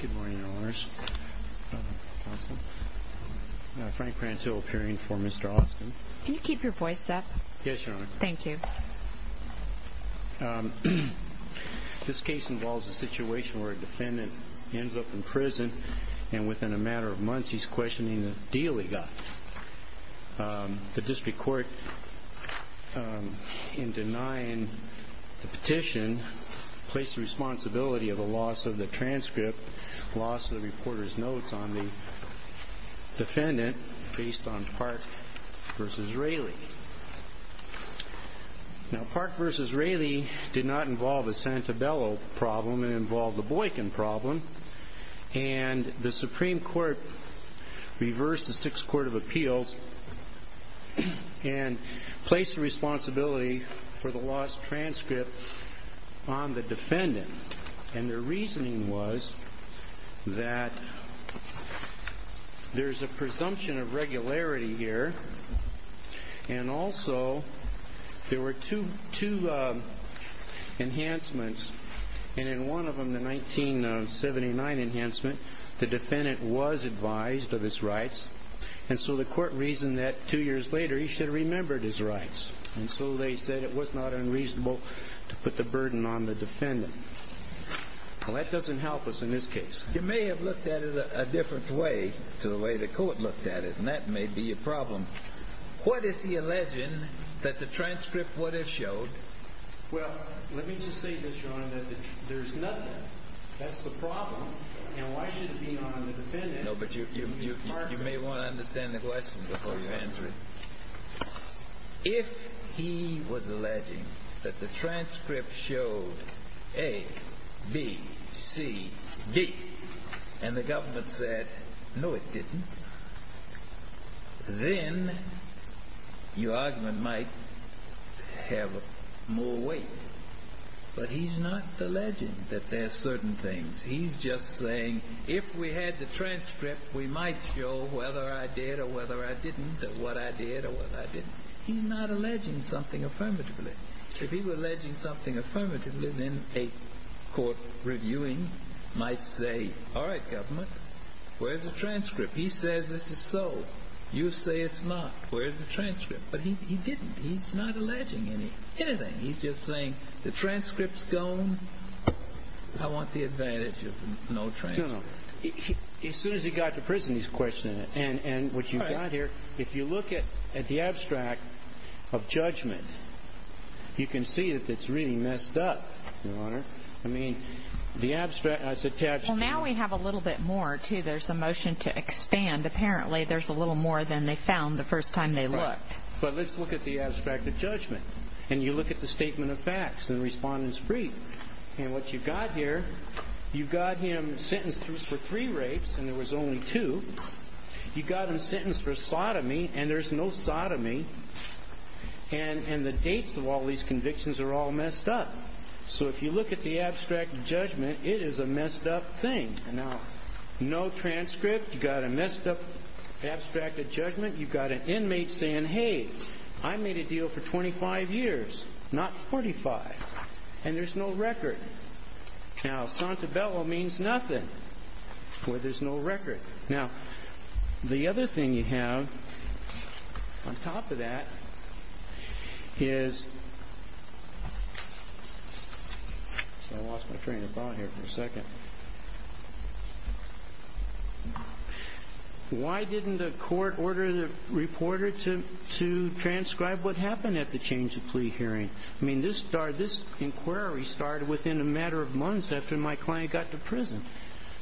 Good morning, Your Honors. Frank Prantill appearing before Mr. Austin. Can you keep your voice up? Yes, Your Honor. Thank you. This case involves a situation where a defendant ends up in prison, and within a matter of months he's questioning the deal he got. The district court, in denying the petition, placed the responsibility of the loss of the transcript, loss of the reporter's notes on the defendant, based on Park v. Raley. Now, Park v. Raley did not involve the Santabello problem, it involved the Boykin problem. And the Supreme Court reversed the Sixth Court of Appeals and placed the responsibility for the lost transcript on the defendant. And their reasoning was that there's a presumption of regularity here, and also there were two enhancements, and in one of them, the 1979 enhancement, the defendant was advised of his rights. And so the court reasoned that two years later he should have remembered his rights. And so they said it was not unreasonable to put the burden on the defendant. Well, that doesn't help us in this case. You may have looked at it a different way to the way the court looked at it, and that may be a problem. What is he alleging that the transcript would have showed? Well, let me just say this, Your Honor, that there's nothing. That's the problem. And why should it be on the defendant? No, but you may want to understand the question before you answer it. If he was alleging that the transcript showed A, B, C, D, and the government said, no, it didn't, then your argument might have more weight. But he's not alleging that there are certain things. He's just saying if we had the transcript, we might show whether I did or whether I didn't or what I did or what I didn't. He's not alleging something affirmatively. If he were alleging something affirmatively, then a court reviewing might say, all right, government, where's the transcript? He says this is so. You say it's not. Where's the transcript? But he didn't. He's not alleging anything. He's just saying the transcript's gone. I want the advantage of no transcript. No, no. As soon as he got to prison, he's questioning it. And what you've got here, if you look at the abstract of judgment, you can see that it's really messed up, Your Honor. I mean, the abstract has attached to it. Well, now we have a little bit more, too. There's a motion to expand. Apparently, there's a little more than they found the first time they looked. But let's look at the abstract of judgment. And you look at the statement of facts and the respondent's brief. And what you've got here, you've got him sentenced for three rapes, and there was only two. You've got him sentenced for sodomy, and there's no sodomy. And the dates of all these convictions are all messed up. So if you look at the abstract of judgment, it is a messed up thing. And now, no transcript. You've got a messed up abstract of judgment. You've got an inmate saying, Hey, I made a deal for 25 years, not 45. And there's no record. Now, sante bello means nothing, where there's no record. Now, the other thing you have on top of that is, I lost my train of thought here for a second. Why didn't the court order the reporter to transcribe what happened at the change of plea hearing? I mean, this inquiry started within a matter of months after my client got to prison.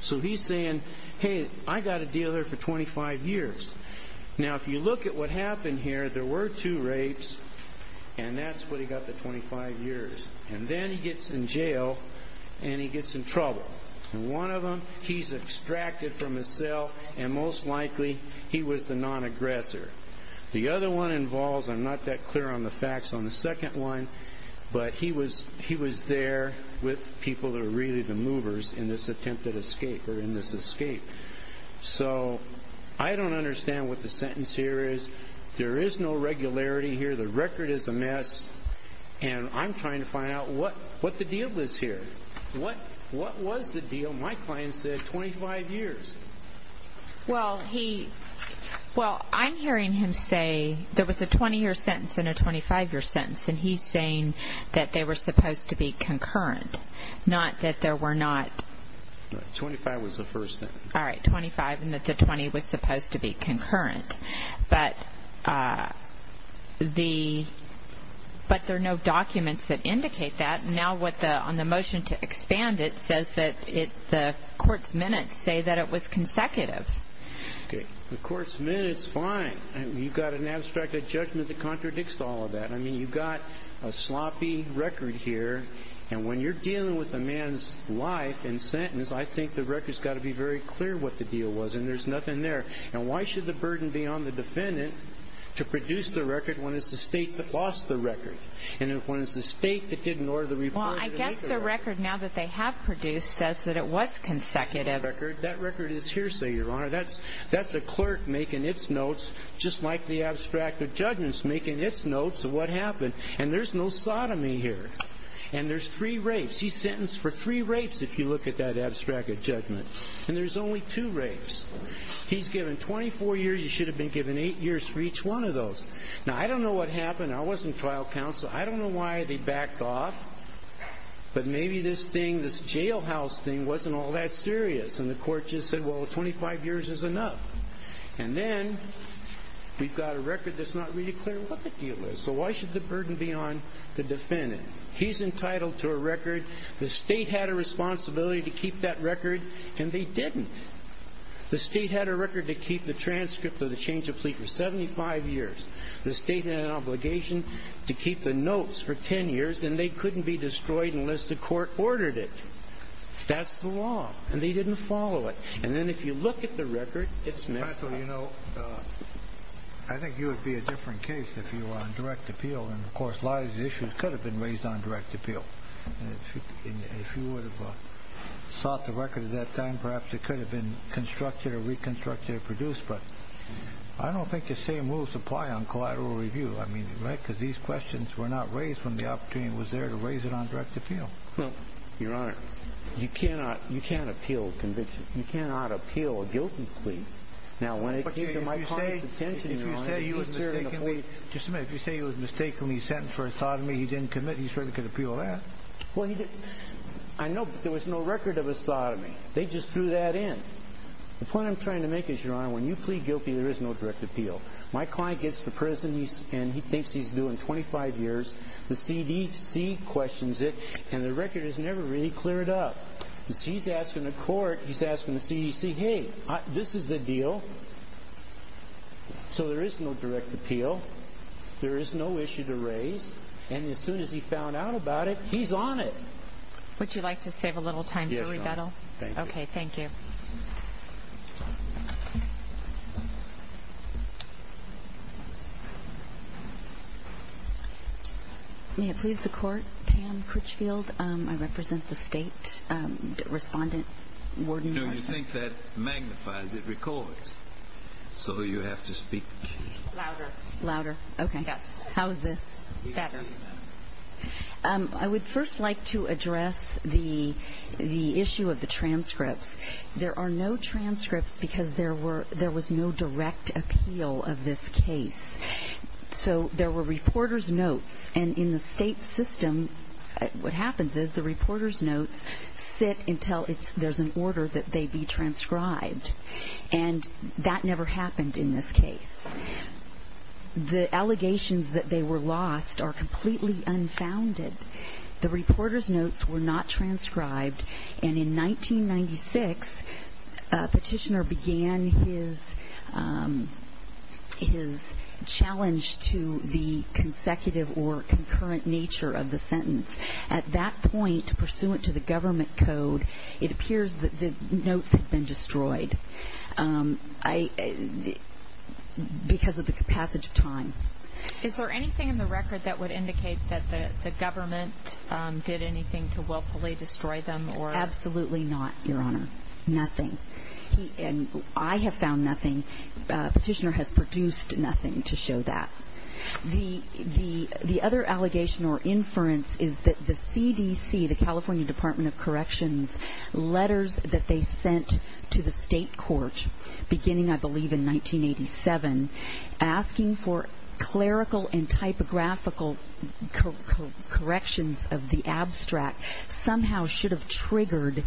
So he's saying, Hey, I got a deal here for 25 years. Now, if you look at what happened here, there were two rapes, and that's what he got for 25 years. And then he gets in jail, and he gets in trouble. And one of them, he's extracted from a cell, and most likely, he was the non-aggressor. The other one involves, I'm not that clear on the facts on the second one, but he was there with people that were really the movers in this attempted escape or in this escape. So I don't understand what the sentence here is. There is no regularity here. The record is a mess. And I'm trying to find out what the deal is here. What was the deal? My client said 25 years. Well, I'm hearing him say there was a 20-year sentence and a 25-year sentence, and he's saying that they were supposed to be concurrent, not that there were not. No, 25 was the first sentence. All right, 25, and that the 20 was supposed to be concurrent. But there are no documents that indicate that. Now, on the motion to expand it, it says that the court's minutes say that it was consecutive. Okay, the court's minutes, fine. You've got an abstracted judgment that contradicts all of that. I mean, you've got a sloppy record here. And when you're dealing with a man's life and sentence, I think the record's got to be very clear what the deal was, and there's nothing there. And why should the burden be on the defendant to produce the record when it's the state that lost the record, and when it's the state that didn't order the report to make the record? Well, I guess the record, now that they have produced, says that it was consecutive. That record is hearsay, Your Honor. That's a clerk making its notes, just like the abstracted judgment's making its notes of what happened. And there's no sodomy here. And there's three rapes. He's sentenced for three rapes, if you look at that abstracted judgment. And there's only two rapes. He's given 24 years. You should have been given eight years for each one of those. Now, I don't know what happened. I wasn't trial counsel. I don't know why they backed off. But maybe this thing, this jailhouse thing, wasn't all that serious, and the court just said, well, 25 years is enough. And then we've got a record that's not really clear what the deal was. So why should the burden be on the defendant? He's entitled to a record. The state had a responsibility to keep that record, and they didn't. The state had a record to keep the transcript of the change of plea for 75 years. The state had an obligation to keep the notes for 10 years, and they couldn't be destroyed unless the court ordered it. That's the law, and they didn't follow it. And then if you look at the record, it's messed up. Counsel, you know, I think you would be a different case if you were on direct appeal. And, of course, a lot of these issues could have been raised on direct appeal. And if you would have sought the record at that time, perhaps it could have been constructed or reconstructed or produced. But I don't think the same rules apply on collateral review. I mean, right, because these questions were not raised when the opportunity was there to raise it on direct appeal. Well, Your Honor, you cannot appeal a conviction. You cannot appeal a guilty plea. Now, when it came to my client's intention, Your Honor, if you say he was mistakenly sentenced for a sodomy he didn't commit, he certainly could appeal that. Well, he didn't. I know, but there was no record of a sodomy. They just threw that in. The point I'm trying to make is, Your Honor, when you plead guilty, there is no direct appeal. My client gets to prison, and he thinks he's due in 25 years. The CDC questions it, and the record has never really cleared up. He's asking the court, he's asking the CDC, hey, this is the deal. So there is no direct appeal. There is no issue to raise. And as soon as he found out about it, he's on it. Would you like to save a little time for rebuttal? Yes, Your Honor. Okay, thank you. May it please the Court, Pam Critchfield. I represent the State Respondent, Warden Carson. No, you think that magnifies it, records. So you have to speak. Louder. Louder. Okay. Yes. How is this? Better. I would first like to address the issue of the transcripts. There are no transcripts because there was no direct appeal of this case. So there were reporter's notes. And in the state system, what happens is the reporter's notes sit until there's an order that they be transcribed. And that never happened in this case. The allegations that they were lost are completely unfounded. The reporter's notes were not transcribed. And in 1996, a petitioner began his challenge to the consecutive or concurrent nature of the sentence. At that point, pursuant to the government code, it appears that the notes had been destroyed because of the passage of time. Is there anything in the record that would indicate that the government did anything to willfully destroy them? Absolutely not, Your Honor. Nothing. And I have found nothing. The petitioner has produced nothing to show that. The other allegation or inference is that the CDC, the California Department of Corrections, letters that they sent to the state court beginning, I believe, in 1987, asking for clerical and typographical corrections of the abstract somehow should have triggered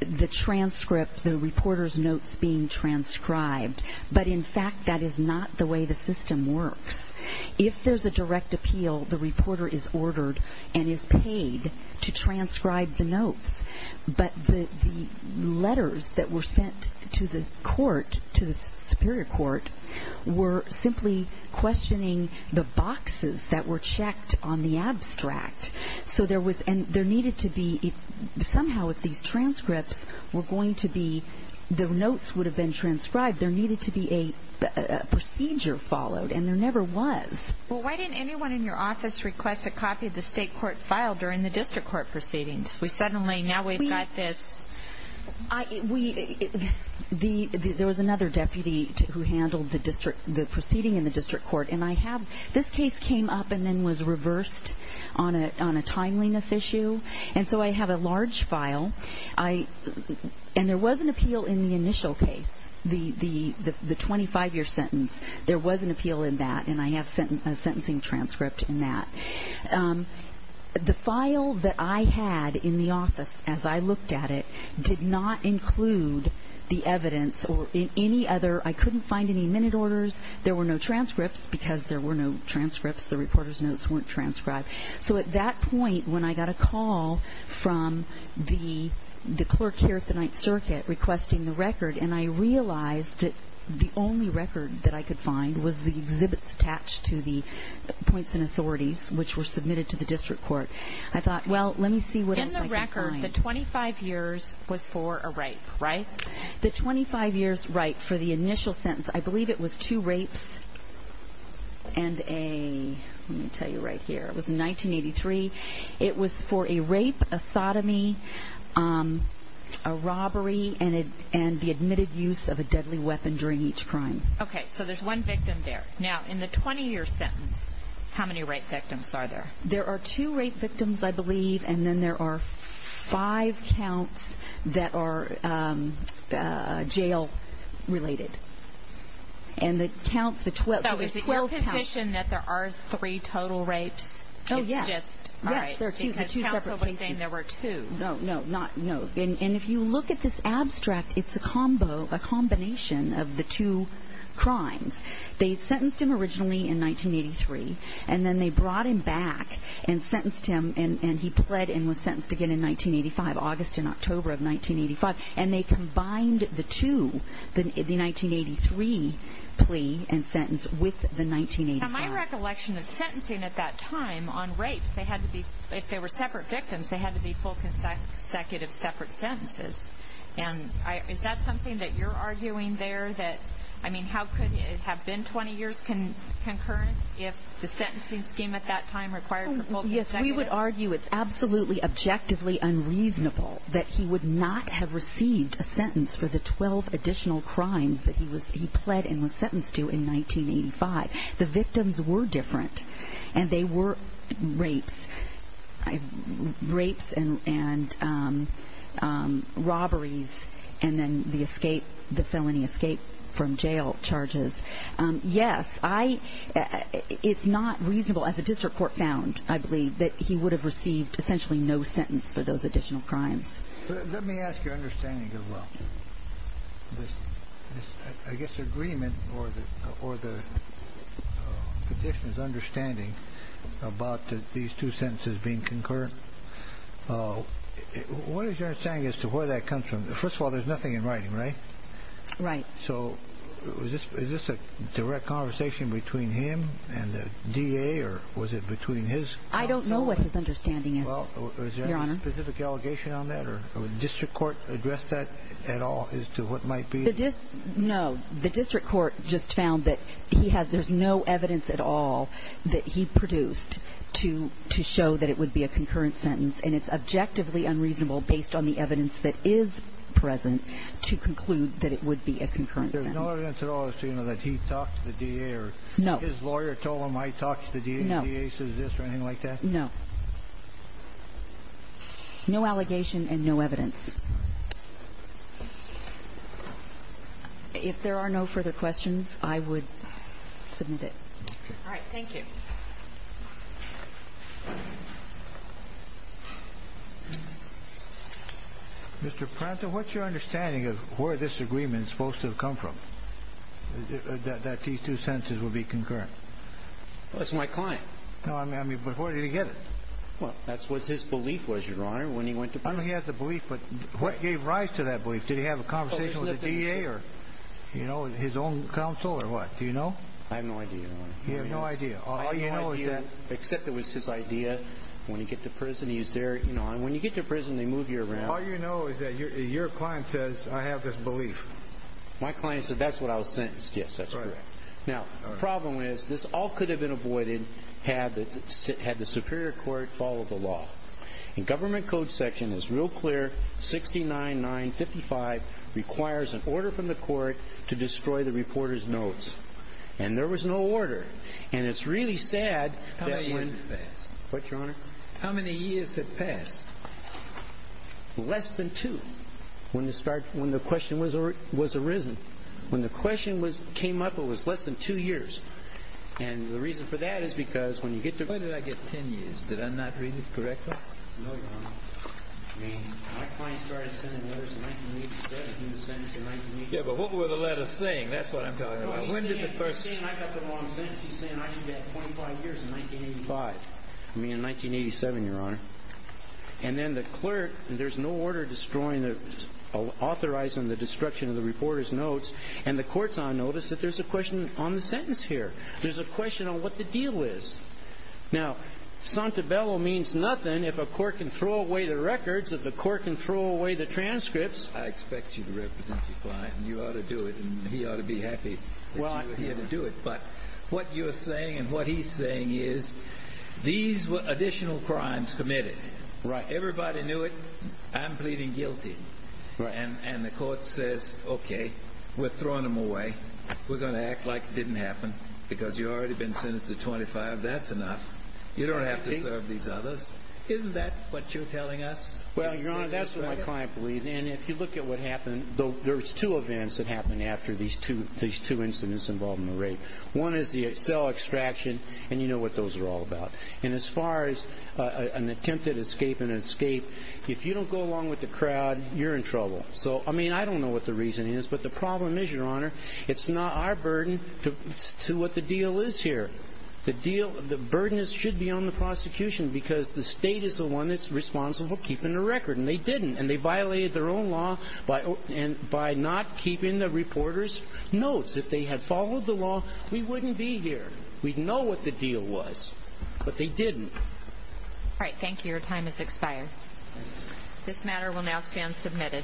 the transcript, the reporter's notes being transcribed. But, in fact, that is not the way the system works. If there's a direct appeal, the reporter is ordered and is paid to transcribe the notes. But the letters that were sent to the court, to the superior court, were simply questioning the boxes that were checked on the abstract. So there was and there needed to be somehow if these transcripts were going to be, the notes would have been transcribed. There needed to be a procedure followed, and there never was. Well, why didn't anyone in your office request a copy of the state court file during the district court proceedings? We suddenly, now we've got this. There was another deputy who handled the proceeding in the district court. And I have, this case came up and then was reversed on a timeliness issue. And so I have a large file. And there was an appeal in the initial case, the 25-year sentence. There was an appeal in that, and I have a sentencing transcript in that. The file that I had in the office as I looked at it did not include the evidence or any other. I couldn't find any minute orders. There were no transcripts because there were no transcripts. The reporter's notes weren't transcribed. So at that point, when I got a call from the clerk here at the Ninth Circuit requesting the record, and I realized that the only record that I could find was the exhibits attached to the points and authorities, which were submitted to the district court, I thought, well, let me see what else I can find. In the record, the 25 years was for a rape, right? The 25 years rape for the initial sentence, I believe it was two rapes and a, let me tell you right here, it was 1983, it was for a rape, a sodomy, a robbery, and the admitted use of a deadly weapon during each crime. Okay, so there's one victim there. Now, in the 20-year sentence, how many rape victims are there? There are two rape victims, I believe, and then there are five counts that are jail-related. And the counts, the 12 counts. So the suspicion that there are three total rapes, it's just, all right, because counsel was saying there were two. No, no, not, no. And if you look at this abstract, it's a combo, a combination of the two crimes. They sentenced him originally in 1983, and then they brought him back and sentenced him, and he pled and was sentenced again in 1985, August and October of 1985. And they combined the two, the 1983 plea and sentence, with the 1985. Now, my recollection of sentencing at that time on rapes, they had to be, if they were separate victims, they had to be full consecutive separate sentences. And is that something that you're arguing there, that, I mean, how could it have been 20 years concurrent if the sentencing scheme at that time required full consecutive? Yes, we would argue it's absolutely objectively unreasonable that he would not have received a sentence for the 12 additional crimes that he was, he pled and was sentenced to in 1985. The victims were different, and they were rapes, rapes and robberies, and then the escape, the felony escape from jail charges. Yes, I, it's not reasonable as a district court found, I believe, that he would have received essentially no sentence for those additional crimes. Let me ask your understanding as well. This, I guess, agreement or the petitioner's understanding about these two sentences being concurrent. What is your understanding as to where that comes from? First of all, there's nothing in writing, right? Right. So is this a direct conversation between him and the DA, or was it between his? I don't know what his understanding is, Your Honor. Is there a specific allegation on that, or would the district court address that at all as to what might be? No, the district court just found that he has, there's no evidence at all that he produced to show that it would be a concurrent sentence, and it's objectively unreasonable based on the evidence that is present to conclude that it would be a concurrent sentence. There's no evidence at all as to, you know, that he talked to the DA or his lawyer told him I talked to the DA, and the DA says this or anything like that? No. No allegation and no evidence. If there are no further questions, I would submit it. All right. Thank you. Mr. Pranta, what's your understanding of where this agreement is supposed to have come from, that these two sentences would be concurrent? Well, it's my client. No, I mean, but where did he get it? Well, that's what his belief was, Your Honor, when he went to police. I know he had the belief, but what gave rise to that belief? Did he have a conversation with the DA or, you know, his own counsel or what? Do you know? I have no idea, Your Honor. You have no idea. All you know is that. I have no idea, except it was his idea. When he got to prison, he was there, you know, and when you get to prison, they move you around. All you know is that your client says I have this belief. My client said that's what I was sentenced to. Yes, that's correct. Now, the problem is this all could have been avoided had the superior court followed the law. In Government Code section, it's real clear 69955 requires an order from the court to destroy the reporter's notes. And there was no order. And it's really sad that when... How many years had passed? What, Your Honor? How many years had passed? Less than two when the question was arisen. When the question came up, it was less than two years. And the reason for that is because when you get to... When did I get 10 years? Did I not read it correctly? No, Your Honor. I mean, my client started sending letters in 1987. He was sentenced in 1987. Yeah, but what were the letters saying? That's what I'm talking about. When did the first... He's saying I got the wrong sentence. He's saying I should get 25 years in 1985. You mean in 1987, Your Honor. And then the clerk... There's no order destroying the... Authorizing the destruction of the reporter's notes. And the court's on notice that there's a question on the sentence here. There's a question on what the deal is. Now, sante bello means nothing if a court can throw away the records. If a court can throw away the transcripts... I expect you to represent your client. And you ought to do it. And he ought to be happy that you were here to do it. But what you're saying and what he's saying is these were additional crimes committed. Right. Everybody knew it. I'm pleading guilty. Right. And the court says, okay, we're throwing them away. We're going to act like it didn't happen because you've already been sentenced to 25. That's enough. You don't have to serve these others. Isn't that what you're telling us? Well, Your Honor, that's what my client believes. And if you look at what happened, there's two events that happened after these two incidents involving the rape. One is the cell extraction, and you know what those are all about. And as far as an attempted escape and an escape, if you don't go along with the crowd, you're in trouble. So, I mean, I don't know what the reason is. But the problem is, Your Honor, it's not our burden to what the deal is here. The deal, the burden should be on the prosecution because the state is the one that's responsible keeping the record. And they didn't. And they violated their own law by not keeping the reporter's notes. If they had followed the law, we wouldn't be here. We'd know what the deal was. But they didn't. All right. Thank you. Your time has expired. This matter will now stand submitted.